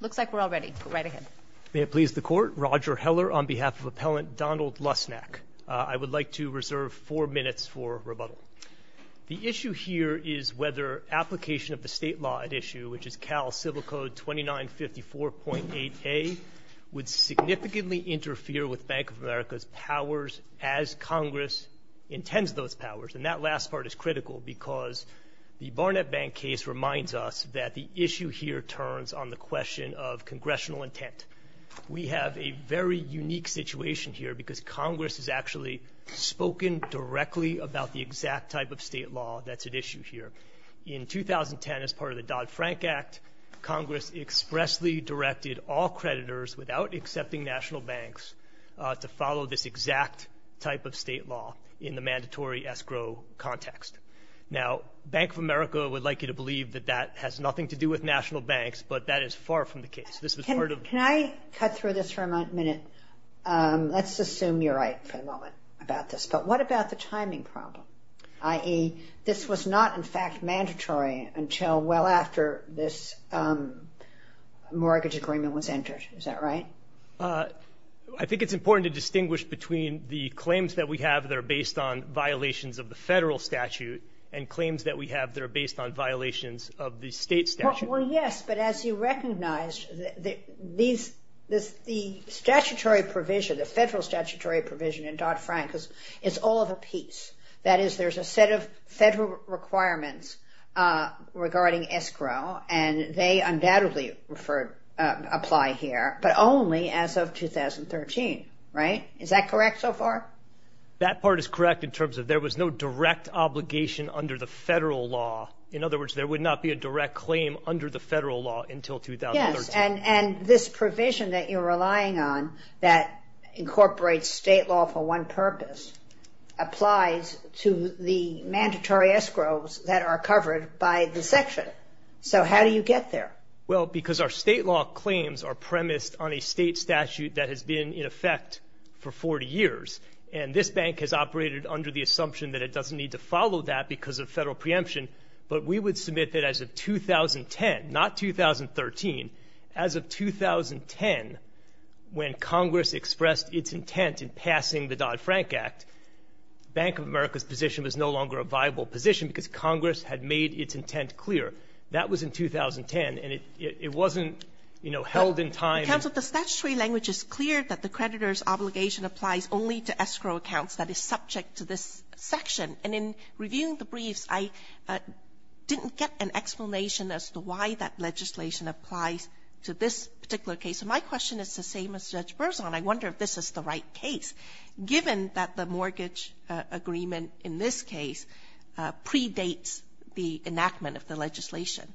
Looks like we're all ready. Go right ahead. May it please the Court, Roger Heller on behalf of Appellant Donald Lusnak. I would like to reserve four minutes for rebuttal. The issue here is whether application of the state law at issue, which is Cal Civil Code 2954.8a, would significantly interfere with Bank of America's powers as Congress intends those powers. And that last part is critical because the Barnett Bank case reminds us that the issue here turns on the question of congressional intent. We have a very unique situation here because Congress has actually spoken directly about the exact type of state law that's at issue here. In 2010, as part of the Dodd-Frank Act, Congress expressly directed all creditors without accepting national banks to follow this exact type of state law in the mandatory escrow context. Now, Bank of America would like you to believe that that has nothing to do with national banks, but that is far from the case. Can I cut through this for a minute? Let's assume you're right for the moment about this. But what about the timing problem, i.e., this was not, in fact, mandatory until well after this mortgage agreement was entered. Is that right? I think it's important to distinguish between the claims that we have that are based on violations of the federal statute and claims that we have that are based on violations of the state statute. Well, yes, but as you recognize, the statutory provision, the federal statutory provision in Dodd-Frank is all of a piece. That is, there's a set of federal requirements regarding escrow, and they undoubtedly apply here, but only as of 2013, right? Is that correct so far? That part is correct in terms of there was no direct obligation under the federal law. In other words, there would not be a direct claim under the federal law until 2013. Yes, and this provision that you're relying on that incorporates state law for one purpose applies to the mandatory escrows that are covered by the section. So how do you get there? Well, because our state law claims are premised on a state statute that has been in effect for 40 years, and this bank has operated under the assumption that it doesn't need to follow that because of federal preemption. But we would submit that as of 2010, not 2013, as of 2010, when Congress expressed its intent in passing the Dodd-Frank Act, Bank of America's position was no longer a viable position because Congress had made its intent clear. That was in 2010, and it wasn't, you know, held in time. Counsel, the statutory language is clear that the creditor's obligation applies only to escrow accounts that is subject to this section. And in reviewing the briefs, I didn't get an explanation as to why that legislation applies to this particular case. So my question is the same as Judge Berzon. I wonder if this is the right case, given that the mortgage agreement in this case predates the enactment of the legislation.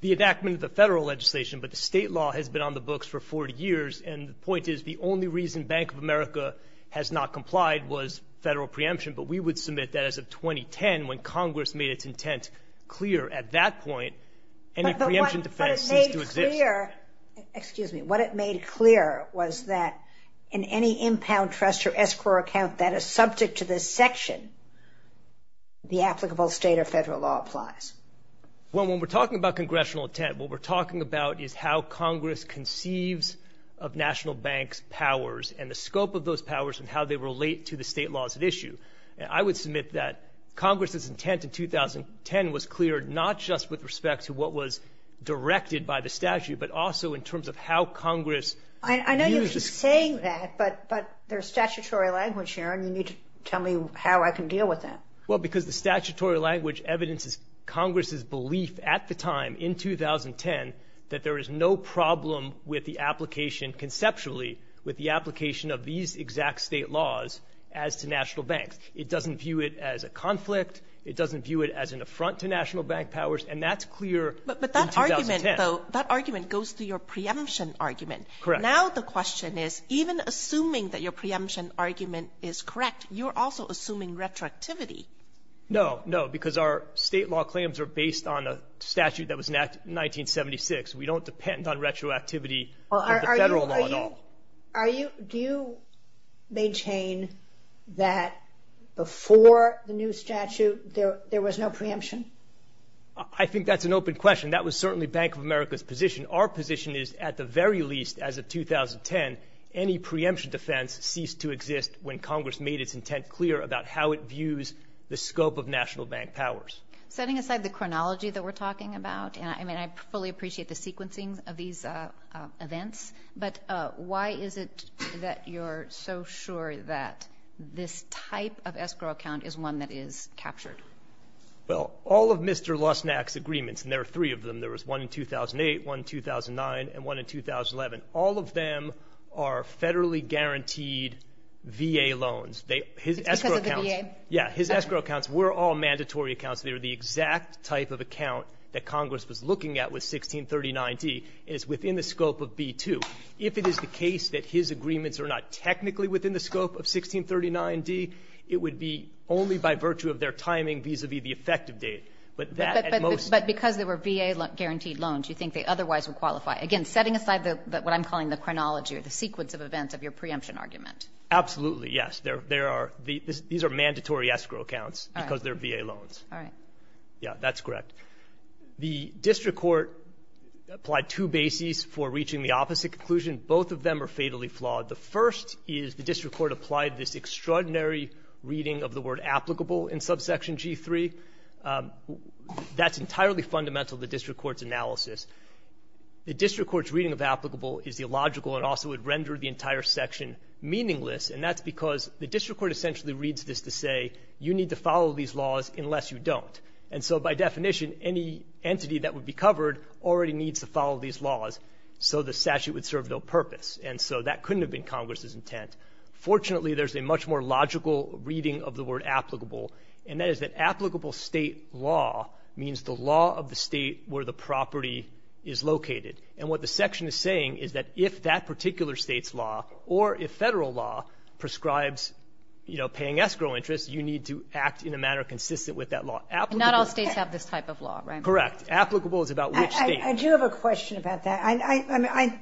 The enactment of the federal legislation, but the state law has been on the books for 40 years, and the point is the only reason Bank of America has not complied was federal preemption, but we would submit that as of 2010, when Congress made its intent clear at that point, any preemption defense seems to exist. But what it made clear, excuse me, what it made clear was that in any impound trust or escrow account that is subject to this section, the applicable state or federal law applies. Well, when we're talking about congressional intent, what we're talking about is how Congress conceives of national banks' powers and the scope of those powers and how they relate to the state laws at issue. I would submit that Congress's intent in 2010 was clear, not just with respect to what was directed by the statute, but also in terms of how Congress used the statute. I know you keep saying that, but there's statutory language here, and you need to tell me how I can deal with that. Well, because the statutory language evidences Congress's belief at the time, in 2010, that there is no problem with the application, conceptually, with the application of these exact state laws as to national banks. It doesn't view it as a conflict. It doesn't view it as an affront to national bank powers. And that's clear in 2010. But that argument, though, that argument goes through your preemption argument. Correct. Now the question is, even assuming that your preemption argument is correct, you're also assuming retroactivity. No, no, because our state law claims are based on a statute that was enacted in 1976. We don't depend on retroactivity of the federal law at all. Do you maintain that before the new statute there was no preemption? I think that's an open question. That was certainly Bank of America's position. Our position is, at the very least, as of 2010, any preemption defense ceased to exist when Congress made its intent clear about how it views the scope of national bank powers. Setting aside the chronology that we're talking about, and I fully appreciate the sequencing of these events, but why is it that you're so sure that this type of escrow account is one that is captured? Well, all of Mr. Losnack's agreements, and there are three of them, there was one in 2008, one in 2009, and one in 2011, all of them are federally guaranteed VA loans. It's because of the VA? Yeah. His escrow accounts were all mandatory accounts. They were the exact type of account that Congress was looking at with 1639D, and it's within the scope of B-2. If it is the case that his agreements are not technically within the scope of 1639D, it would be only by virtue of their timing vis-à-vis the effective date. But that, at most — But because they were VA-guaranteed loans, you think they otherwise would qualify. Again, setting aside what I'm calling the chronology or the sequence of events of your preemption argument. Absolutely, yes. These are mandatory escrow accounts because they're VA loans. All right. Yeah, that's correct. The district court applied two bases for reaching the opposite conclusion. Both of them are fatally flawed. The first is the district court applied this extraordinary reading of the word applicable in Subsection G3. That's entirely fundamental to the district court's analysis. The district court's reading of applicable is illogical and also would render the entire section meaningless, and that's because the district court essentially reads this to say, you need to follow these laws unless you don't. And so by definition, any entity that would be covered already needs to follow these laws, so the statute would serve no purpose. And so that couldn't have been Congress's intent. Fortunately, there's a much more logical reading of the word applicable, and that is that applicable State law means the law of the State where the property is located. And what the section is saying is that if that particular State's law or if Federal law prescribes paying escrow interest, you need to act in a manner consistent with that law. Not all States have this type of law, right? Correct. Applicable is about which State. I do have a question about that. I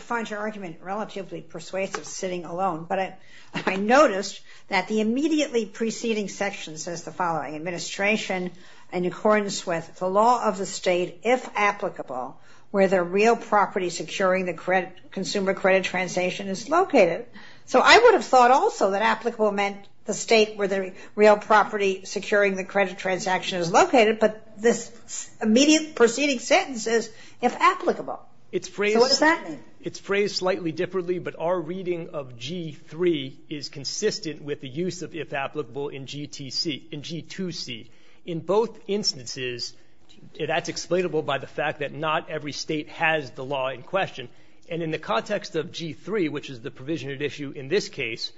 find your argument relatively persuasive sitting alone, but I noticed that the immediately preceding section says the following, administration in accordance with the law of the State if applicable where the real property securing the consumer credit transaction is located. So I would have thought also that applicable meant the State where the real property securing the credit transaction is located, but this immediate preceding sentence says if applicable. So what does that mean? It's phrased slightly differently, but our reading of G3 is consistent with the use of if applicable in G2C, in both instances, that's explainable by the fact that not every State has the law in question. And in the context of G3, which is the provision of issue in this case,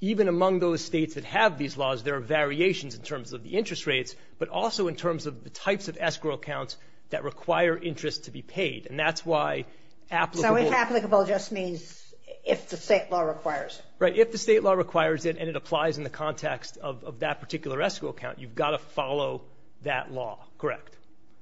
even among those States that have these laws, there are variations in terms of the interest rates, but also in terms of the types of escrow accounts that require interest to be paid. And that's why applicable. So if applicable just means if the State law requires it. Right. If the State law requires it and it applies in the context of that particular escrow account, you've got to follow that law. Correct.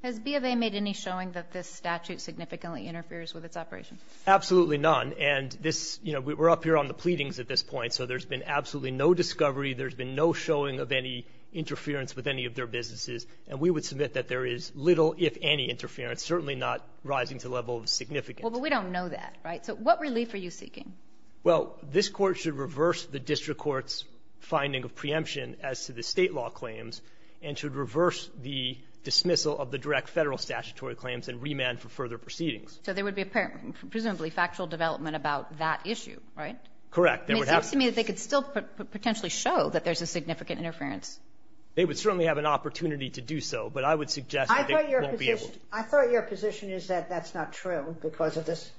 Has B of A made any showing that this statute significantly interferes with its operation? Absolutely none. And this, you know, we're up here on the pleadings at this point. So there's been absolutely no discovery. There's been no showing of any interference with any of their businesses. And we would submit that there is little if any interference, certainly not rising to the level of significance. Well, but we don't know that. Right. So what relief are you seeking? Well, this Court should reverse the district court's finding of preemption as to the State law claims and should reverse the dismissal of the direct Federal statutory claims and remand for further proceedings. So there would be presumably factual development about that issue, right? There would have to be. It seems to me that they could still potentially show that there's a significant interference. They would certainly have an opportunity to do so, but I would suggest that they won't be able to. I thought your position is that that's not true because of this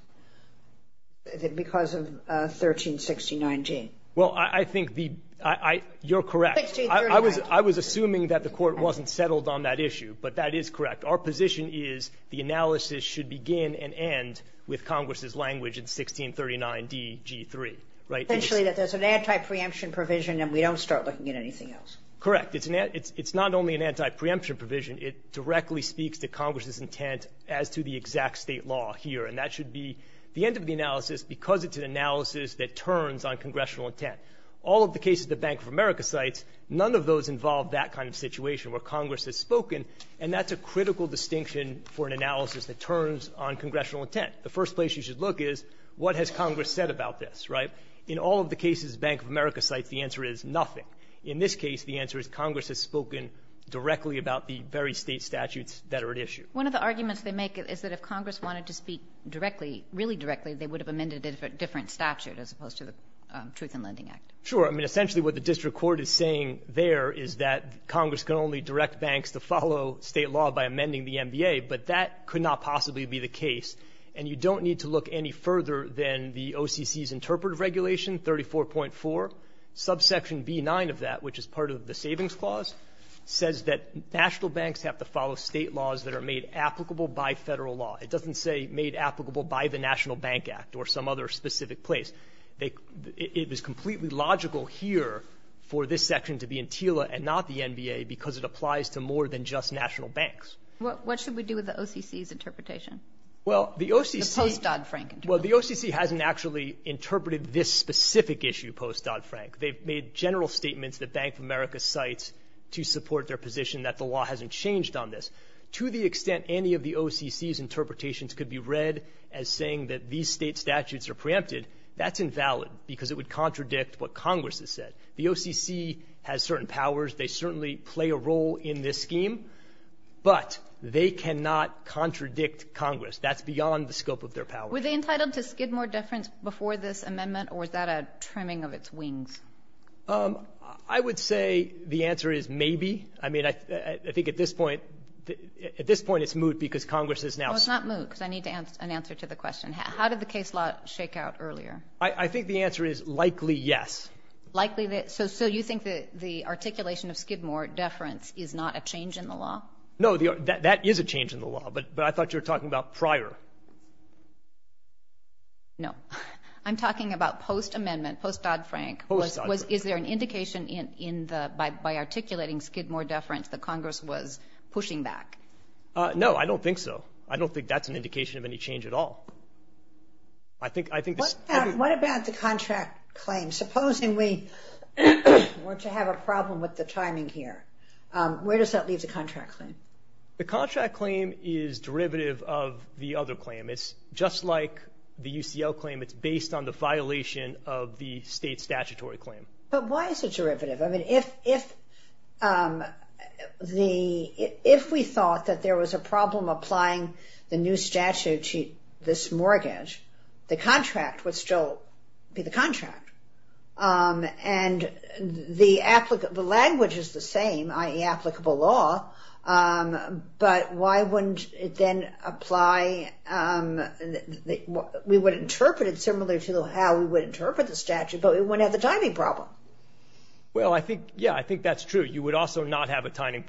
– because of 1369G. Well, I think the – you're correct. 1639G. I was assuming that the Court wasn't settled on that issue, but that is correct. Our position is the analysis should begin and end with Congress's language in 1639DG3, right? Potentially that there's an anti-preemption provision and we don't start looking at anything else. Correct. It's not only an anti-preemption provision. It directly speaks to Congress's intent as to the exact State law here, and that should be the end of the analysis because it's an analysis that turns on congressional intent. All of the cases that Bank of America cites, none of those involve that kind of situation where Congress has spoken, and that's a critical distinction for an analysis that turns on congressional intent. The first place you should look is what has Congress said about this, right? In all of the cases Bank of America cites, the answer is nothing. In this case, the answer is Congress has spoken directly about the very State statutes that are at issue. One of the arguments they make is that if Congress wanted to speak directly, really directly, they would have amended a different statute as opposed to the Truth and Lending Act. Sure. I mean, essentially what the district court is saying there is that Congress can only direct banks to follow State law by amending the MBA, but that could not possibly be the case. And you don't need to look any further than the OCC's interpretive regulation, 34.4. Subsection B-9 of that, which is part of the Savings Clause, says that national banks have to follow State laws that are made applicable by Federal law. It doesn't say made applicable by the National Bank Act or some other specific place. It is completely logical here for this section to be in TILA and not the MBA because it applies to more than just national banks. What should we do with the OCC's interpretation? Well, the OCC — The post-Dodd-Frank interpretation. Well, the OCC hasn't actually interpreted this specific issue post-Dodd-Frank. They've made general statements that Bank of America cites to support their position that the law hasn't changed on this. To the extent any of the OCC's interpretations could be read as saying that these State statutes are preempted, that's invalid because it would contradict what Congress has said. The OCC has certain powers. They certainly play a role in this scheme. But they cannot contradict Congress. That's beyond the scope of their power. Were they entitled to Skidmore deference before this amendment, or is that a trimming of its wings? I would say the answer is maybe. I mean, I think at this point — at this point it's moot because Congress is now — Well, it's not moot because I need an answer to the question. How did the case law shake out earlier? I think the answer is likely yes. Likely — so you think that the articulation of Skidmore deference is not a change in the law? No, that is a change in the law, but I thought you were talking about prior. No. I'm talking about post-amendment, post-Dodd-Frank. Post-Dodd-Frank. Is there an indication in the — by articulating Skidmore deference that Congress was pushing back? No, I don't think so. I don't think that's an indication of any change at all. I think — What about the contract claim? Supposing we were to have a problem with the timing here, where does that leave the contract claim? The contract claim is derivative of the other claim. It's just like the UCL claim. It's based on the violation of the state statutory claim. But why is it derivative? I mean, if the — if we thought that there was a problem applying the new statute to this mortgage, the contract would still be the contract. And the — the language is the same, i.e., applicable law, but why wouldn't it then apply — we would interpret it similarly to how we would interpret the statute, but we wouldn't have the timing problem. Well, I think — yeah, I think that's true. You would also not have a timing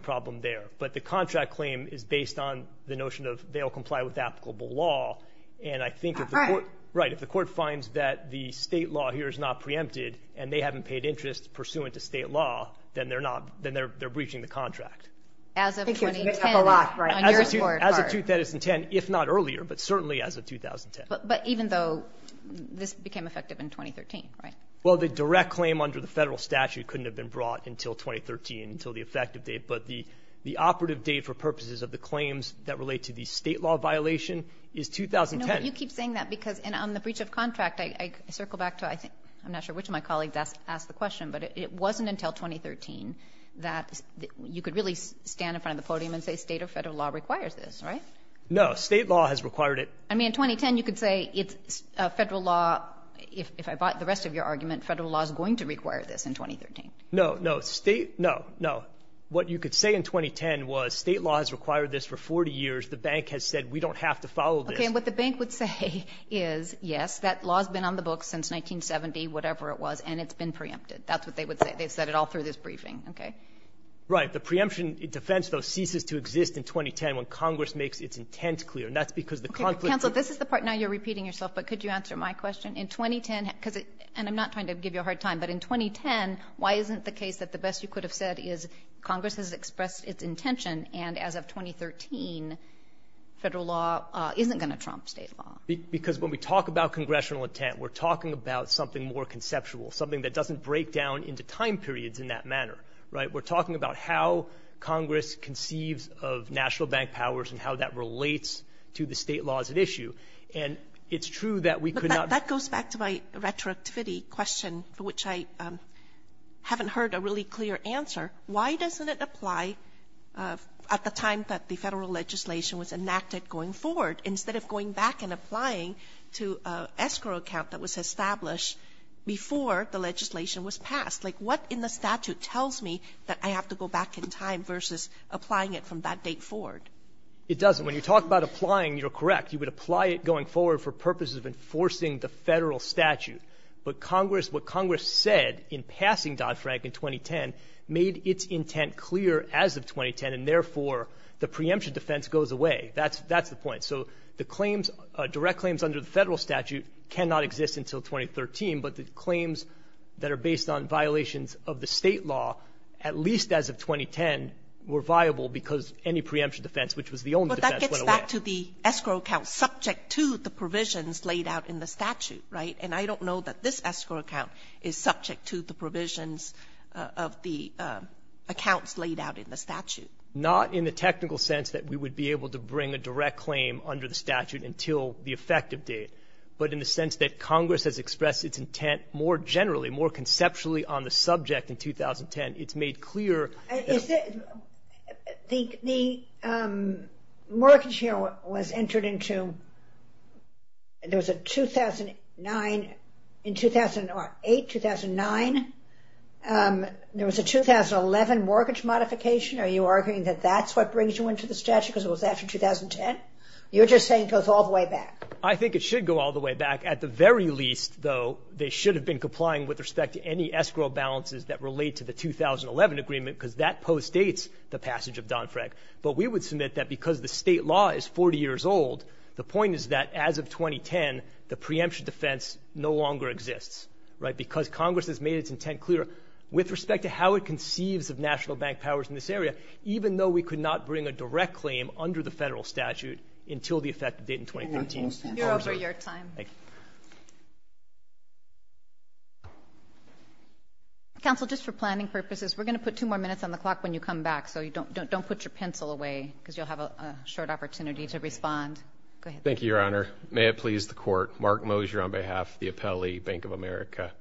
problem there. But the contract claim is based on the notion of they'll comply with applicable law, and I think if the court — Right. If the court finds that the state law here is not preempted and they haven't paid interest pursuant to state law, then they're not — then they're breaching the contract. As of 2010 — They can't make up a lot, right. — on your scorecard. As of 2010, if not earlier, but certainly as of 2010. But even though this became effective in 2013, right? Well, the direct claim under the federal statute couldn't have been brought until 2013, until the effective date. But the operative date for purposes of the claims that relate to the state law violation is 2010. No, but you keep saying that because on the breach of contract, I circle back to — I'm not sure which of my colleagues asked the question, but it wasn't until 2013 that you could really stand in front of the podium and say state or federal law requires this, right? No. State law has required it. I mean, in 2010, you could say it's federal law — if I bought the rest of your argument, federal law is going to require this in 2013. No, no. State — no, no. What you could say in 2010 was state law has required this for 40 years. The bank has said we don't have to follow this. Okay. And what the bank would say is, yes, that law has been on the books since 1970, whatever it was, and it's been preempted. That's what they would say. They've said it all through this briefing. Okay? Right. The preemption defense, though, ceases to exist in 2010 when Congress makes its intent clear. And that's because the conflict is — Okay. Counsel, this is the part now you're repeating yourself, but could you answer my question? In 2010, because it — and I'm not trying to give you a hard time, but in 2010, why isn't the case that the best you could have said is Congress has expressed its intention, and as of 2013, Federal law isn't going to trump State law? Because when we talk about congressional intent, we're talking about something more conceptual, something that doesn't break down into time periods in that manner, right? We're talking about how Congress conceives of national bank powers and how that relates to the State laws at issue. And it's true that we could not — But that goes back to my retroactivity question, for which I haven't heard a really clear answer. Why doesn't it apply at the time that the Federal legislation was enacted going forward, instead of going back and applying to an escrow account that was established before the legislation was passed? Like, what in the statute tells me that I have to go back in time versus applying it from that date forward? It doesn't. When you talk about applying, you're correct. You would apply it going forward for purposes of enforcing the Federal statute. But Congress — what Congress said in passing Dodd-Frank in 2010 made its intent clear as of 2010, and therefore, the preemption defense goes away. That's the point. So the claims — direct claims under the Federal statute cannot exist until 2013, but the claims that are based on violations of the State law, at least as of 2010, were viable because any preemption defense, which was the only defense, went away. But that gets back to the escrow account subject to the provisions laid out in the statute, right? And I don't know that this escrow account is subject to the provisions of the accounts laid out in the statute. Not in the technical sense that we would be able to bring a direct claim under the statute until the effective date, but in the sense that Congress has expressed its intent more generally, more conceptually, on the subject in 2010. It's made clear — I think the mortgage here was entered into — there was a 2009 — in 2008, 2009, there was a 2011 mortgage modification. Are you arguing that that's what brings you into the statute because it was after 2010? You're just saying it goes all the way back. I think it should go all the way back. At the very least, though, they should have been complying with respect to any escrow balances that relate to the 2011 agreement because that postdates the contract. But we would submit that because the state law is 40 years old, the point is that as of 2010, the preemption defense no longer exists, right, because Congress has made its intent clearer with respect to how it conceives of national bank powers in this area, even though we could not bring a direct claim under the federal statute until the effective date in 2015. You're over your time. Thank you. Counsel, just for planning purposes, we're going to put two more minutes on the because you'll have a short opportunity to respond. Go ahead. Thank you, Your Honor. May it please the Court. Mark Mosier on behalf of the Appellee Bank of America.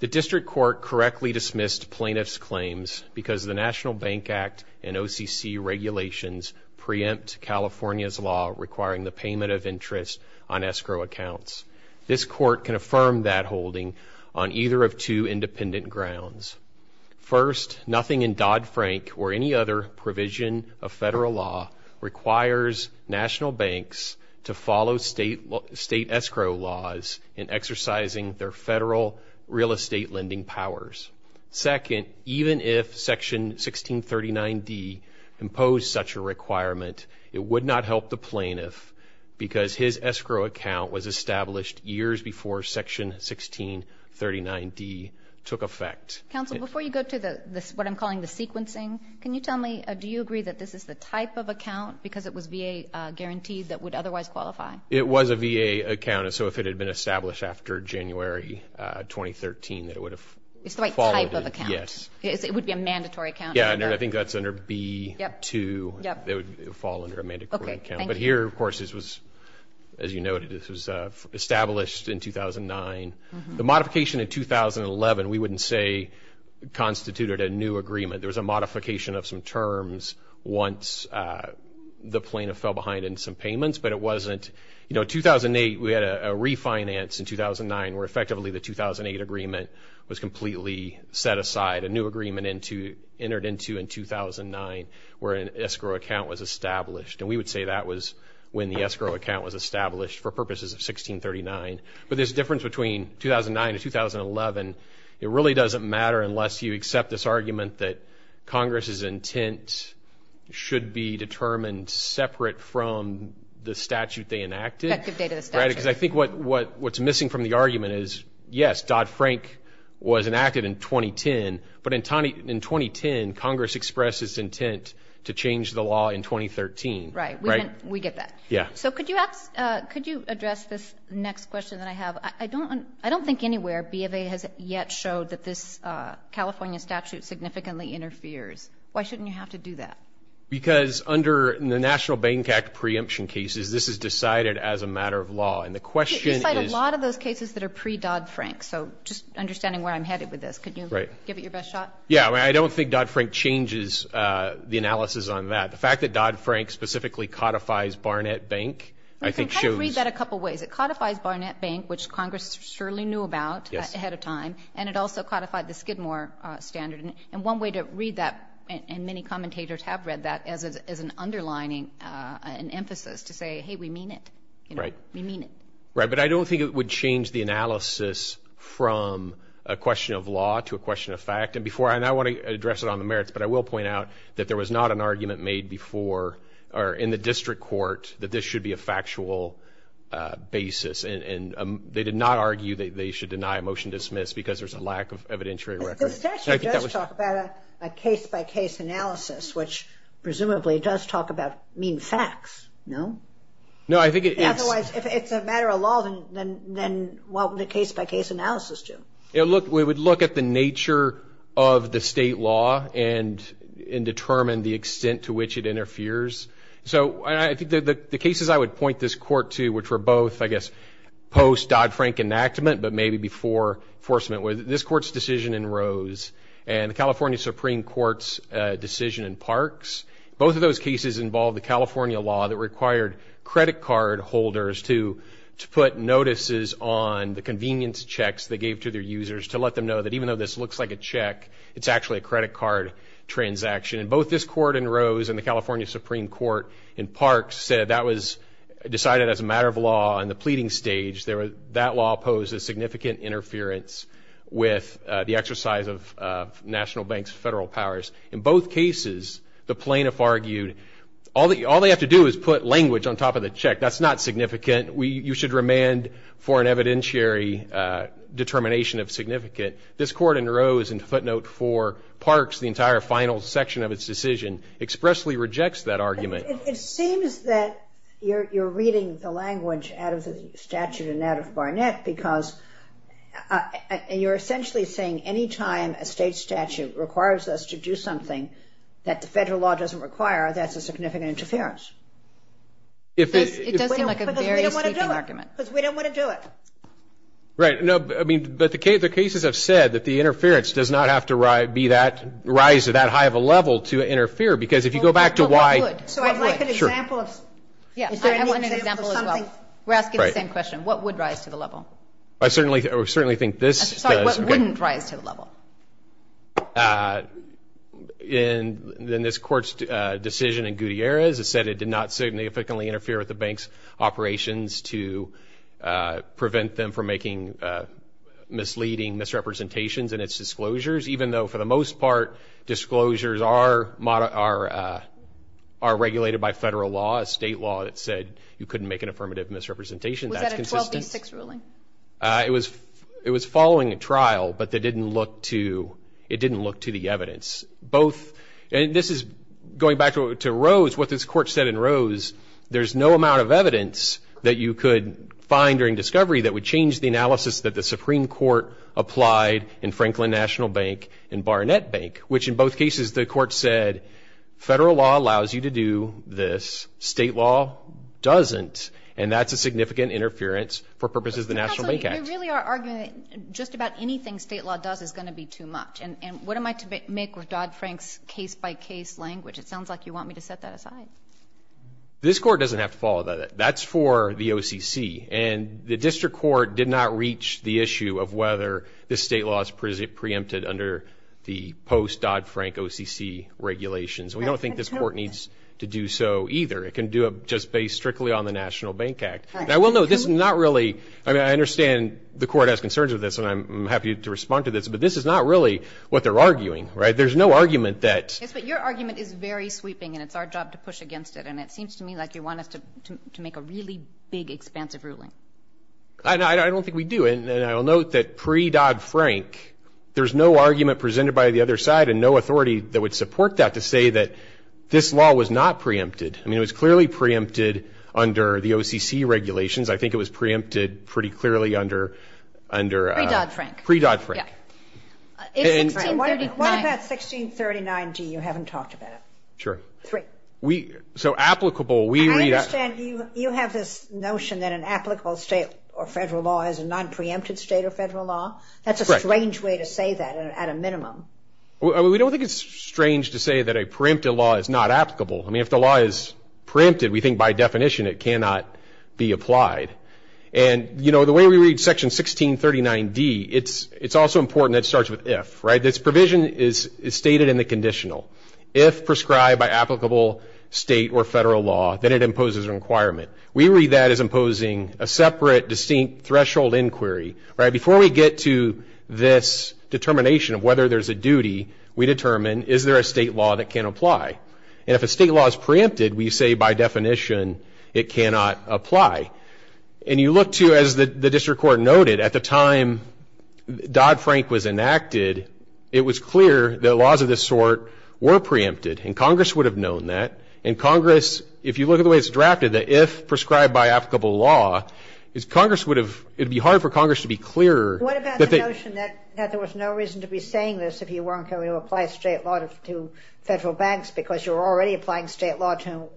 The district court correctly dismissed plaintiff's claims because the National Bank Act and OCC regulations preempt California's law requiring the payment of interest on escrow accounts. This court can affirm that holding on either of two independent grounds. First, nothing in Dodd-Frank or any other provision of federal law requires national banks to follow state escrow laws in exercising their federal real estate lending powers. Second, even if Section 1639D imposed such a requirement, it would not help the plaintiff because his escrow account was established years before Section 1639D took effect. Counsel, before you go to what I'm calling the sequencing, can you tell me, do you agree that this is the type of account, because it was VA guaranteed, that would otherwise qualify? It was a VA account. So if it had been established after January 2013, it would have fallen. It's the right type of account. Yes. It would be a mandatory account. Yeah, and I think that's under B-2. It would fall under a mandatory account. But here, of course, as you noted, this was established in 2009. The modification in 2011, we wouldn't say constituted a new agreement. There was a modification of some terms once the plaintiff fell behind in some payments, but it wasn't. You know, 2008, we had a refinance in 2009 where effectively the 2008 agreement was completely set aside, a new agreement entered into in 2009 where an escrow account was established. And we would say that was when the escrow account was established for purposes of 2009 to 2011. It really doesn't matter unless you accept this argument that Congress's intent should be determined separate from the statute they enacted. Because I think what's missing from the argument is, yes, Dodd-Frank was enacted in 2010, but in 2010, Congress expressed its intent to change the law in 2013. Right. We get that. Yeah. So could you address this next question that I have? I don't think anywhere B of A has yet showed that this California statute significantly interferes. Why shouldn't you have to do that? Because under the National Bank Act preemption cases, this is decided as a matter of law. And the question is. You cite a lot of those cases that are pre-Dodd-Frank. So just understanding where I'm headed with this, could you give it your best shot? Yeah. I mean, I don't think Dodd-Frank changes the analysis on that. The fact that Dodd-Frank specifically codifies Barnett Bank I think shows. Well, it does that a couple of ways. It codifies Barnett Bank, which Congress surely knew about. Yes. Ahead of time. And it also codified the Skidmore standard. And one way to read that, and many commentators have read that, is an underlining, an emphasis to say, hey, we mean it. Right. We mean it. Right. But I don't think it would change the analysis from a question of law to a question of fact. And before I, and I want to address it on the merits, but I will point out that there was not an argument made before or in the district court that this should be a factual basis. And they did not argue that they should deny a motion to dismiss because there's a lack of evidentiary record. This actually does talk about a case-by-case analysis, which presumably does talk about mean facts. No? No, I think it is. Otherwise, if it's a matter of law, then what would a case-by-case analysis do? It would look at the nature of the state law and determine the extent to which it interferes. So I think the cases I would point this court to, which were both, I guess, post-Dodd-Frank enactment, but maybe before enforcement, were this court's decision in Rose and the California Supreme Court's decision in Parks. Both of those cases involved the California law that required credit card holders to put notices on the convenience checks they gave to their users to let them know that even though this looks like a check, it's actually a credit card transaction. And both this court in Rose and the California Supreme Court in Parks said that was decided as a matter of law in the pleading stage. That law poses significant interference with the exercise of national banks' federal powers. In both cases, the plaintiff argued all they have to do is put language on top of the check. That's not significant. You should remand for an evidentiary determination of significant. This court in Rose and footnote 4, Parks, the entire final section of its decision, expressly rejects that argument. It seems that you're reading the language out of the statute and out of Barnett because you're essentially saying any time a state statute requires us to do something that the federal law doesn't require, that's a significant interference. It does seem like a very sweeping argument. Because we don't want to do it. Because we don't want to do it. Right. No. But the cases have said that the interference does not have to rise to that high of a level to interfere. Because if you go back to why. So I'd like an example. Yeah. I want an example as well. We're asking the same question. What would rise to the level? I certainly think this does. Sorry. What wouldn't rise to the level? In this court's decision in Gutierrez, it said it did not significantly interfere with operations to prevent them from making misleading misrepresentations in its disclosures. Even though, for the most part, disclosures are regulated by federal law, state law, that said you couldn't make an affirmative misrepresentation. That's consistent. Was that a 12-6 ruling? It was following a trial. But it didn't look to the evidence. And this is going back to Rose, what this court said in Rose. There's no amount of evidence that you could find during discovery that would change the analysis that the Supreme Court applied in Franklin National Bank and Barnett Bank, which in both cases, the court said federal law allows you to do this. State law doesn't. And that's a significant interference for purposes of the National Bank Act. Counsel, you really are arguing that just about anything state law does is going to be too much. And what am I to make with Dodd-Frank's case-by-case language? It sounds like you want me to set that aside. This court doesn't have to follow that. That's for the OCC. And the district court did not reach the issue of whether this state law is preempted under the post-Dodd-Frank OCC regulations. We don't think this court needs to do so either. It can do it just based strictly on the National Bank Act. I will note this is not really ñ I mean, I understand the court has concerns with this, and I'm happy to respond to this, but this is not really what they're arguing, right? There's no argument that ñ Yes, but your argument is very sweeping, and it's our job to push against it. And it seems to me like you want us to make a really big, expansive ruling. I don't think we do. And I will note that pre-Dodd-Frank, there's no argument presented by the other side and no authority that would support that to say that this law was not preempted. I mean, it was clearly preempted under the OCC regulations. I think it was preempted pretty clearly under ñ Pre-Dodd-Frank. Pre-Dodd-Frank. Yeah. What about 1639d? You haven't talked about it. Sure. Three. So applicable, we read ñ I understand you have this notion that an applicable state or federal law is a nonpreempted state or federal law. That's a strange way to say that at a minimum. We don't think it's strange to say that a preempted law is not applicable. I mean, if the law is preempted, we think by definition it cannot be applied. And, you know, the way we read Section 1639d, it's also important that it starts with if. This provision is stated in the conditional. If prescribed by applicable state or federal law, then it imposes a requirement. We read that as imposing a separate, distinct threshold inquiry. Before we get to this determination of whether there's a duty, we determine, is there a state law that can apply? And if a state law is preempted, we say by definition it cannot apply. And you look to, as the district court noted, at the time Dodd-Frank was enacted, it was clear that laws of this sort were preempted, and Congress would have known that. And Congress, if you look at the way it's drafted, the if prescribed by applicable law, Congress would have ñ it would be hard for Congress to be clearer. What about the notion that there was no reason to be saying this if you weren't going to apply a state law to federal banks because you were already applying state law to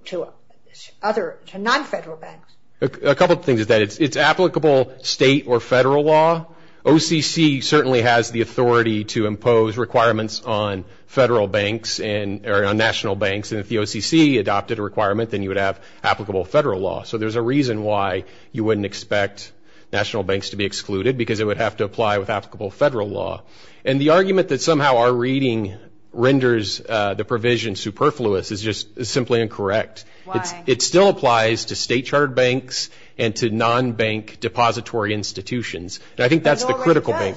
other ñ to non-federal banks? A couple of things is that it's applicable state or federal law. OCC certainly has the authority to impose requirements on federal banks and ñ or on national banks, and if the OCC adopted a requirement, then you would have applicable federal law. So there's a reason why you wouldn't expect national banks to be excluded because it would have to apply with applicable federal law. And the argument that somehow our reading renders the provision superfluous is just ñ is simply incorrect. Why? It still applies to state-chartered banks and to non-bank depository institutions. And I think that's the critical thing.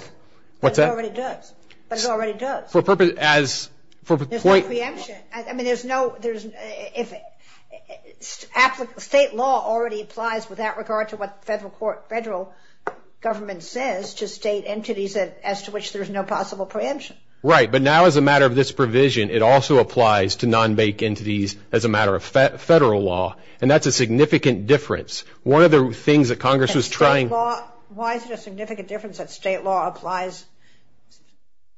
But it already does. What's that? But it already does. But it already does. For purpose ñ as ñ for point ñ There's no preemption. I mean, there's no ñ there's ñ if ñ state law already applies without regard to what federal court ñ federal government says to state entities as to which there's no possible preemption. Right. But now, as a matter of this provision, it also applies to non-bank entities as a matter of federal law. And that's a significant difference. One of the things that Congress was trying ñ And state law ñ why is it a significant difference that state law applies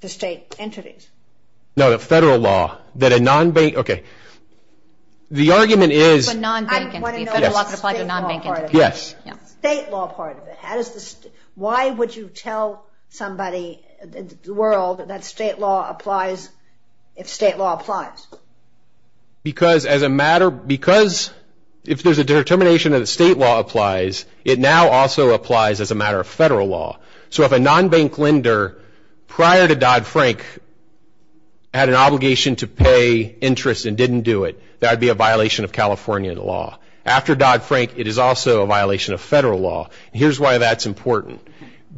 to state entities? No, the federal law. That a non-bank ñ okay. The argument is ñ But non-bank entities. Federal law could apply to non-bank entities. State law part of it. Yes. State law part of it. How does the ñ why would you tell somebody in the world that state law applies if state law applies? Because as a matter ñ because if there's a determination that state law applies, it now also applies as a matter of federal law. So if a non-bank lender, prior to Dodd-Frank, had an obligation to pay interest and didn't do it, that would be a violation of California law. After Dodd-Frank, it is also a violation of federal law. And here's why that's important.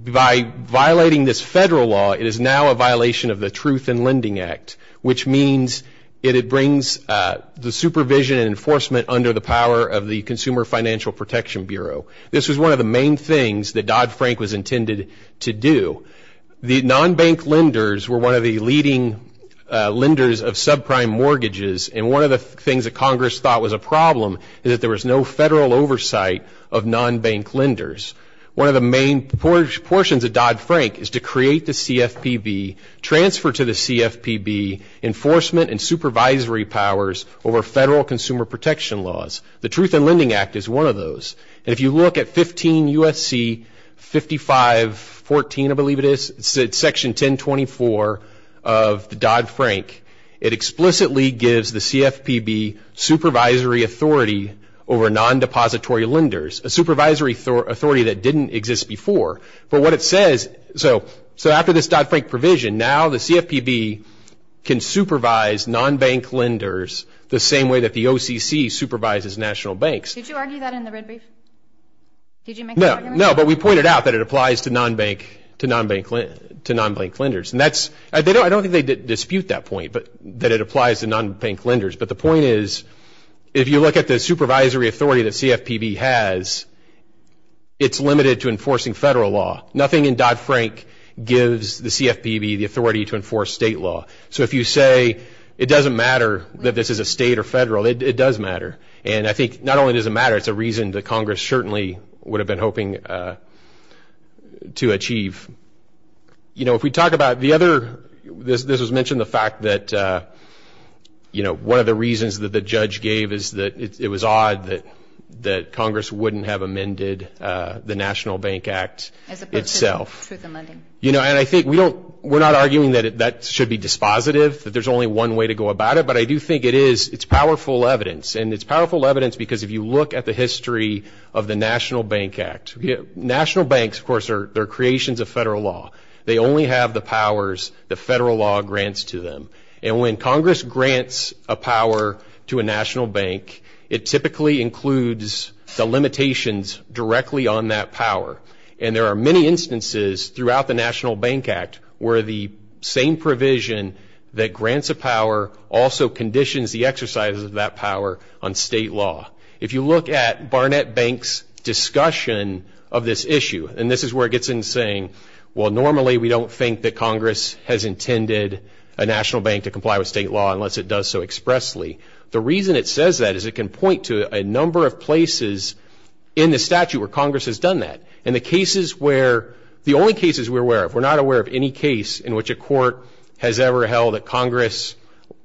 By violating this federal law, it is now a violation of the Truth in Lending Act, which means that it brings the supervision and enforcement under the power of the Consumer Financial Protection Bureau. This was one of the main things that Dodd-Frank was intended to do. The non-bank lenders were one of the leading lenders of subprime mortgages. And one of the things that Congress thought was a problem is that there was no federal oversight of non-bank lenders. One of the main portions of Dodd-Frank is to create the CFPB, transfer to the CFPB, enforcement and supervisory powers over federal consumer protection laws. The Truth in Lending Act is one of those. And if you look at 15 U.S.C. 5514, I believe it is, it's Section 1024 of the Dodd-Frank, it explicitly gives the CFPB supervisory authority over non-depository lenders, a supervisory authority that didn't exist before. But what it says, so after this Dodd-Frank provision, now the CFPB can supervise non-bank lenders the same way that the OCC supervises national banks. Did you argue that in the red brief? Did you make that argument? No, but we pointed out that it applies to non-bank lenders. And that's, I don't think they dispute that point, that it applies to non-bank lenders. But the point is, if you look at the supervisory authority that CFPB has, it's limited to enforcing federal law. Nothing in Dodd-Frank gives the CFPB the authority to enforce state law. So if you say it doesn't matter that this is a state or federal, it does matter. And I think not only does it matter, it's a reason that Congress certainly would have been hoping to achieve. You know, if we talk about the other, this was mentioned, the fact that, you know, one of the reasons that the judge gave is that it was odd that Congress wouldn't have amended the National Bank Act itself. You know, and I think we don't, we're not arguing that that should be dispositive, that there's only one way to go about it. But I do think it is, it's powerful evidence. And it's powerful evidence because if you look at the history of the National Bank Act, national banks, of course, are creations of federal law. They only have the powers that federal law grants to them. And when Congress grants a power to a national bank, it typically includes the limitations directly on that power. And there are many instances throughout the National Bank Act where the same provision that grants a power also conditions the exercises of that power on state law. If you look at Barnett Bank's discussion of this issue, and this is where it gets insane, well, normally we don't think that Congress has intended a national bank to comply with state law unless it does so expressly. The reason it says that is it can point to a number of places in the statute where Congress has done that. And the cases where, the only cases we're aware of, we're not aware of any case in which a court has ever held that Congress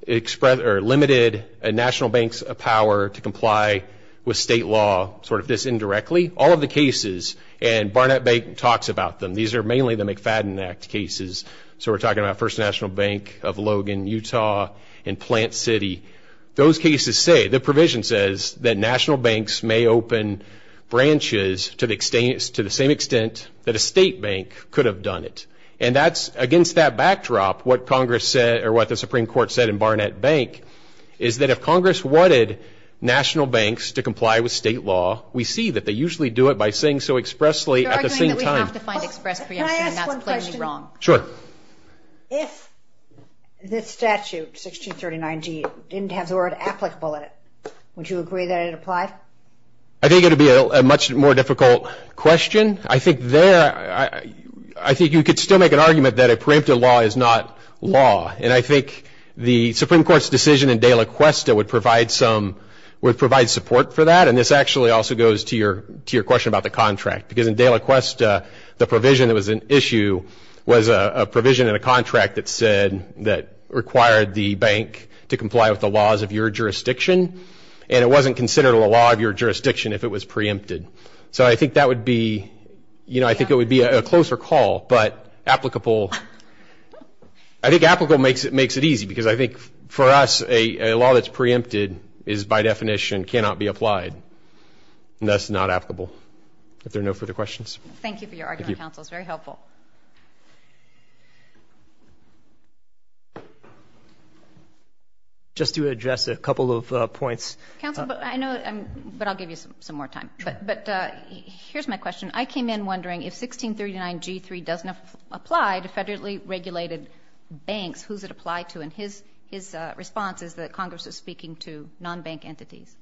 limited a national bank's power to comply with state law sort of this indirectly. All of the cases, and Barnett Bank talks about them, these are mainly the McFadden Act cases. So we're talking about First National Bank of Logan, Utah, and Plant City. Those cases say, the provision says that national banks may open branches to the same extent that a state bank could have done it. And that's, against that backdrop, what Congress said, or what the Supreme Court said in Barnett Bank, is that if Congress wanted national banks to comply with state law, we see that they usually do it by saying so expressly at the same time. You're arguing that we have to find express preemption, and that's plainly wrong. Can I ask one question? Sure. If this statute, 1639G, didn't have the word applicable in it, would you agree that it applied? I think it would be a much more difficult question. I think you could still make an argument that a preemptive law is not law. And I think the Supreme Court's decision in De La Cuesta would provide support for that, and this actually also goes to your question about the contract. Because in De La Cuesta, the provision that was an issue was a provision in a contract that said that required the bank to comply with the laws of your jurisdiction, and it wasn't considered a law of your jurisdiction if it was preempted. So I think that would be, you know, I think it would be a closer call. But applicable, I think applicable makes it easy, because I think for us a law that's preempted is by definition cannot be applied. And that's not applicable. If there are no further questions. Thank you for your argument, counsel. It was very helpful. Just to address a couple of points. Counsel, but I know, but I'll give you some more time. But here's my question. I came in wondering if 1639G3 doesn't apply to federally regulated banks, who's it apply to? And his response is that Congress is speaking to non-bank entities.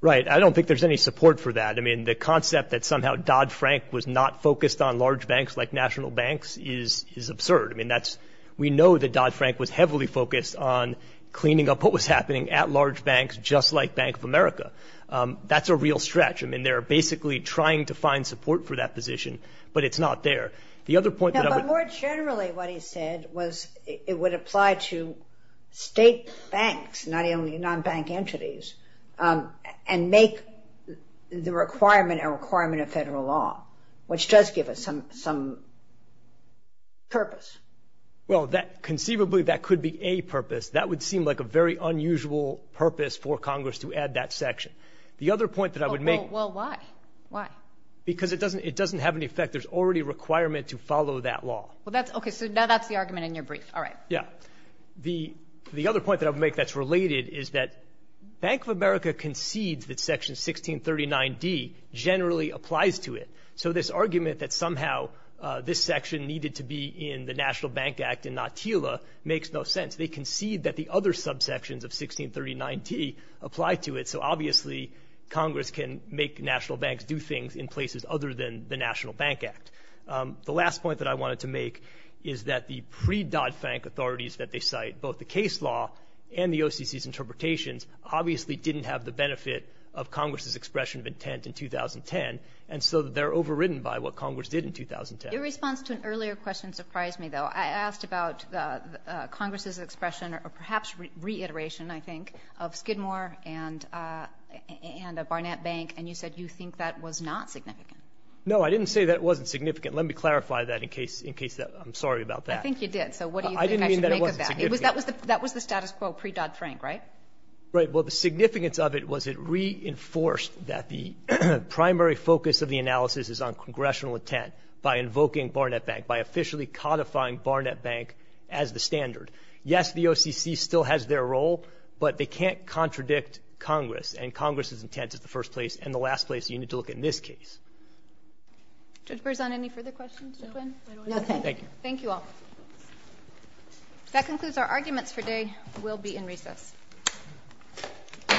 Right. I don't think there's any support for that. I mean, the concept that somehow Dodd-Frank was not focused on large banks like national banks is absurd. I mean, that's we know that Dodd-Frank was heavily focused on cleaning up what was happening at large banks just like Bank of America. That's a real stretch. I mean, they're basically trying to find support for that position, but it's not there. The other point that I would. No, but more generally what he said was it would apply to state banks, not only non-bank entities, and make the requirement a requirement of federal law, which does give us some purpose. Well, conceivably that could be a purpose. That would seem like a very unusual purpose for Congress to add that section. The other point that I would make. Well, why? Why? Because it doesn't have any effect. There's already a requirement to follow that law. Okay, so now that's the argument in your brief. All right. Yeah. The other point that I would make that's related is that Bank of America concedes that Section 1639D generally applies to it. So this argument that somehow this section needed to be in the National Bank Act and not TILA makes no sense. They concede that the other subsections of 1639D apply to it. So obviously Congress can make national banks do things in places other than the National Bank Act. The last point that I wanted to make is that the pre-Dodd-Fank authorities that they cite, both the case law and the OCC's interpretations, obviously didn't have the benefit of Congress's expression of intent in 2010, and so they're overridden by what Congress did in 2010. Your response to an earlier question surprised me, though. I asked about Congress's expression or perhaps reiteration, I think, of Skidmore and Barnett Bank, and you said you think that was not significant. No, I didn't say that wasn't significant. Let me clarify that in case I'm sorry about that. I think you did. So what do you think I should make of that? I didn't mean that it wasn't significant. That was the status quo pre-Dodd-Frank, right? Right. Well, the significance of it was it reinforced that the primary focus of the analysis is on congressional intent by invoking Barnett Bank, by officially codifying Barnett Bank as the standard. Yes, the OCC still has their role, but they can't contradict Congress, and Congress's intent is the first place and the last place you need to look in this case. Judge Berzon, any further questions? No, thank you. Thank you all. That concludes our arguments for today. We'll be in recess. All rise.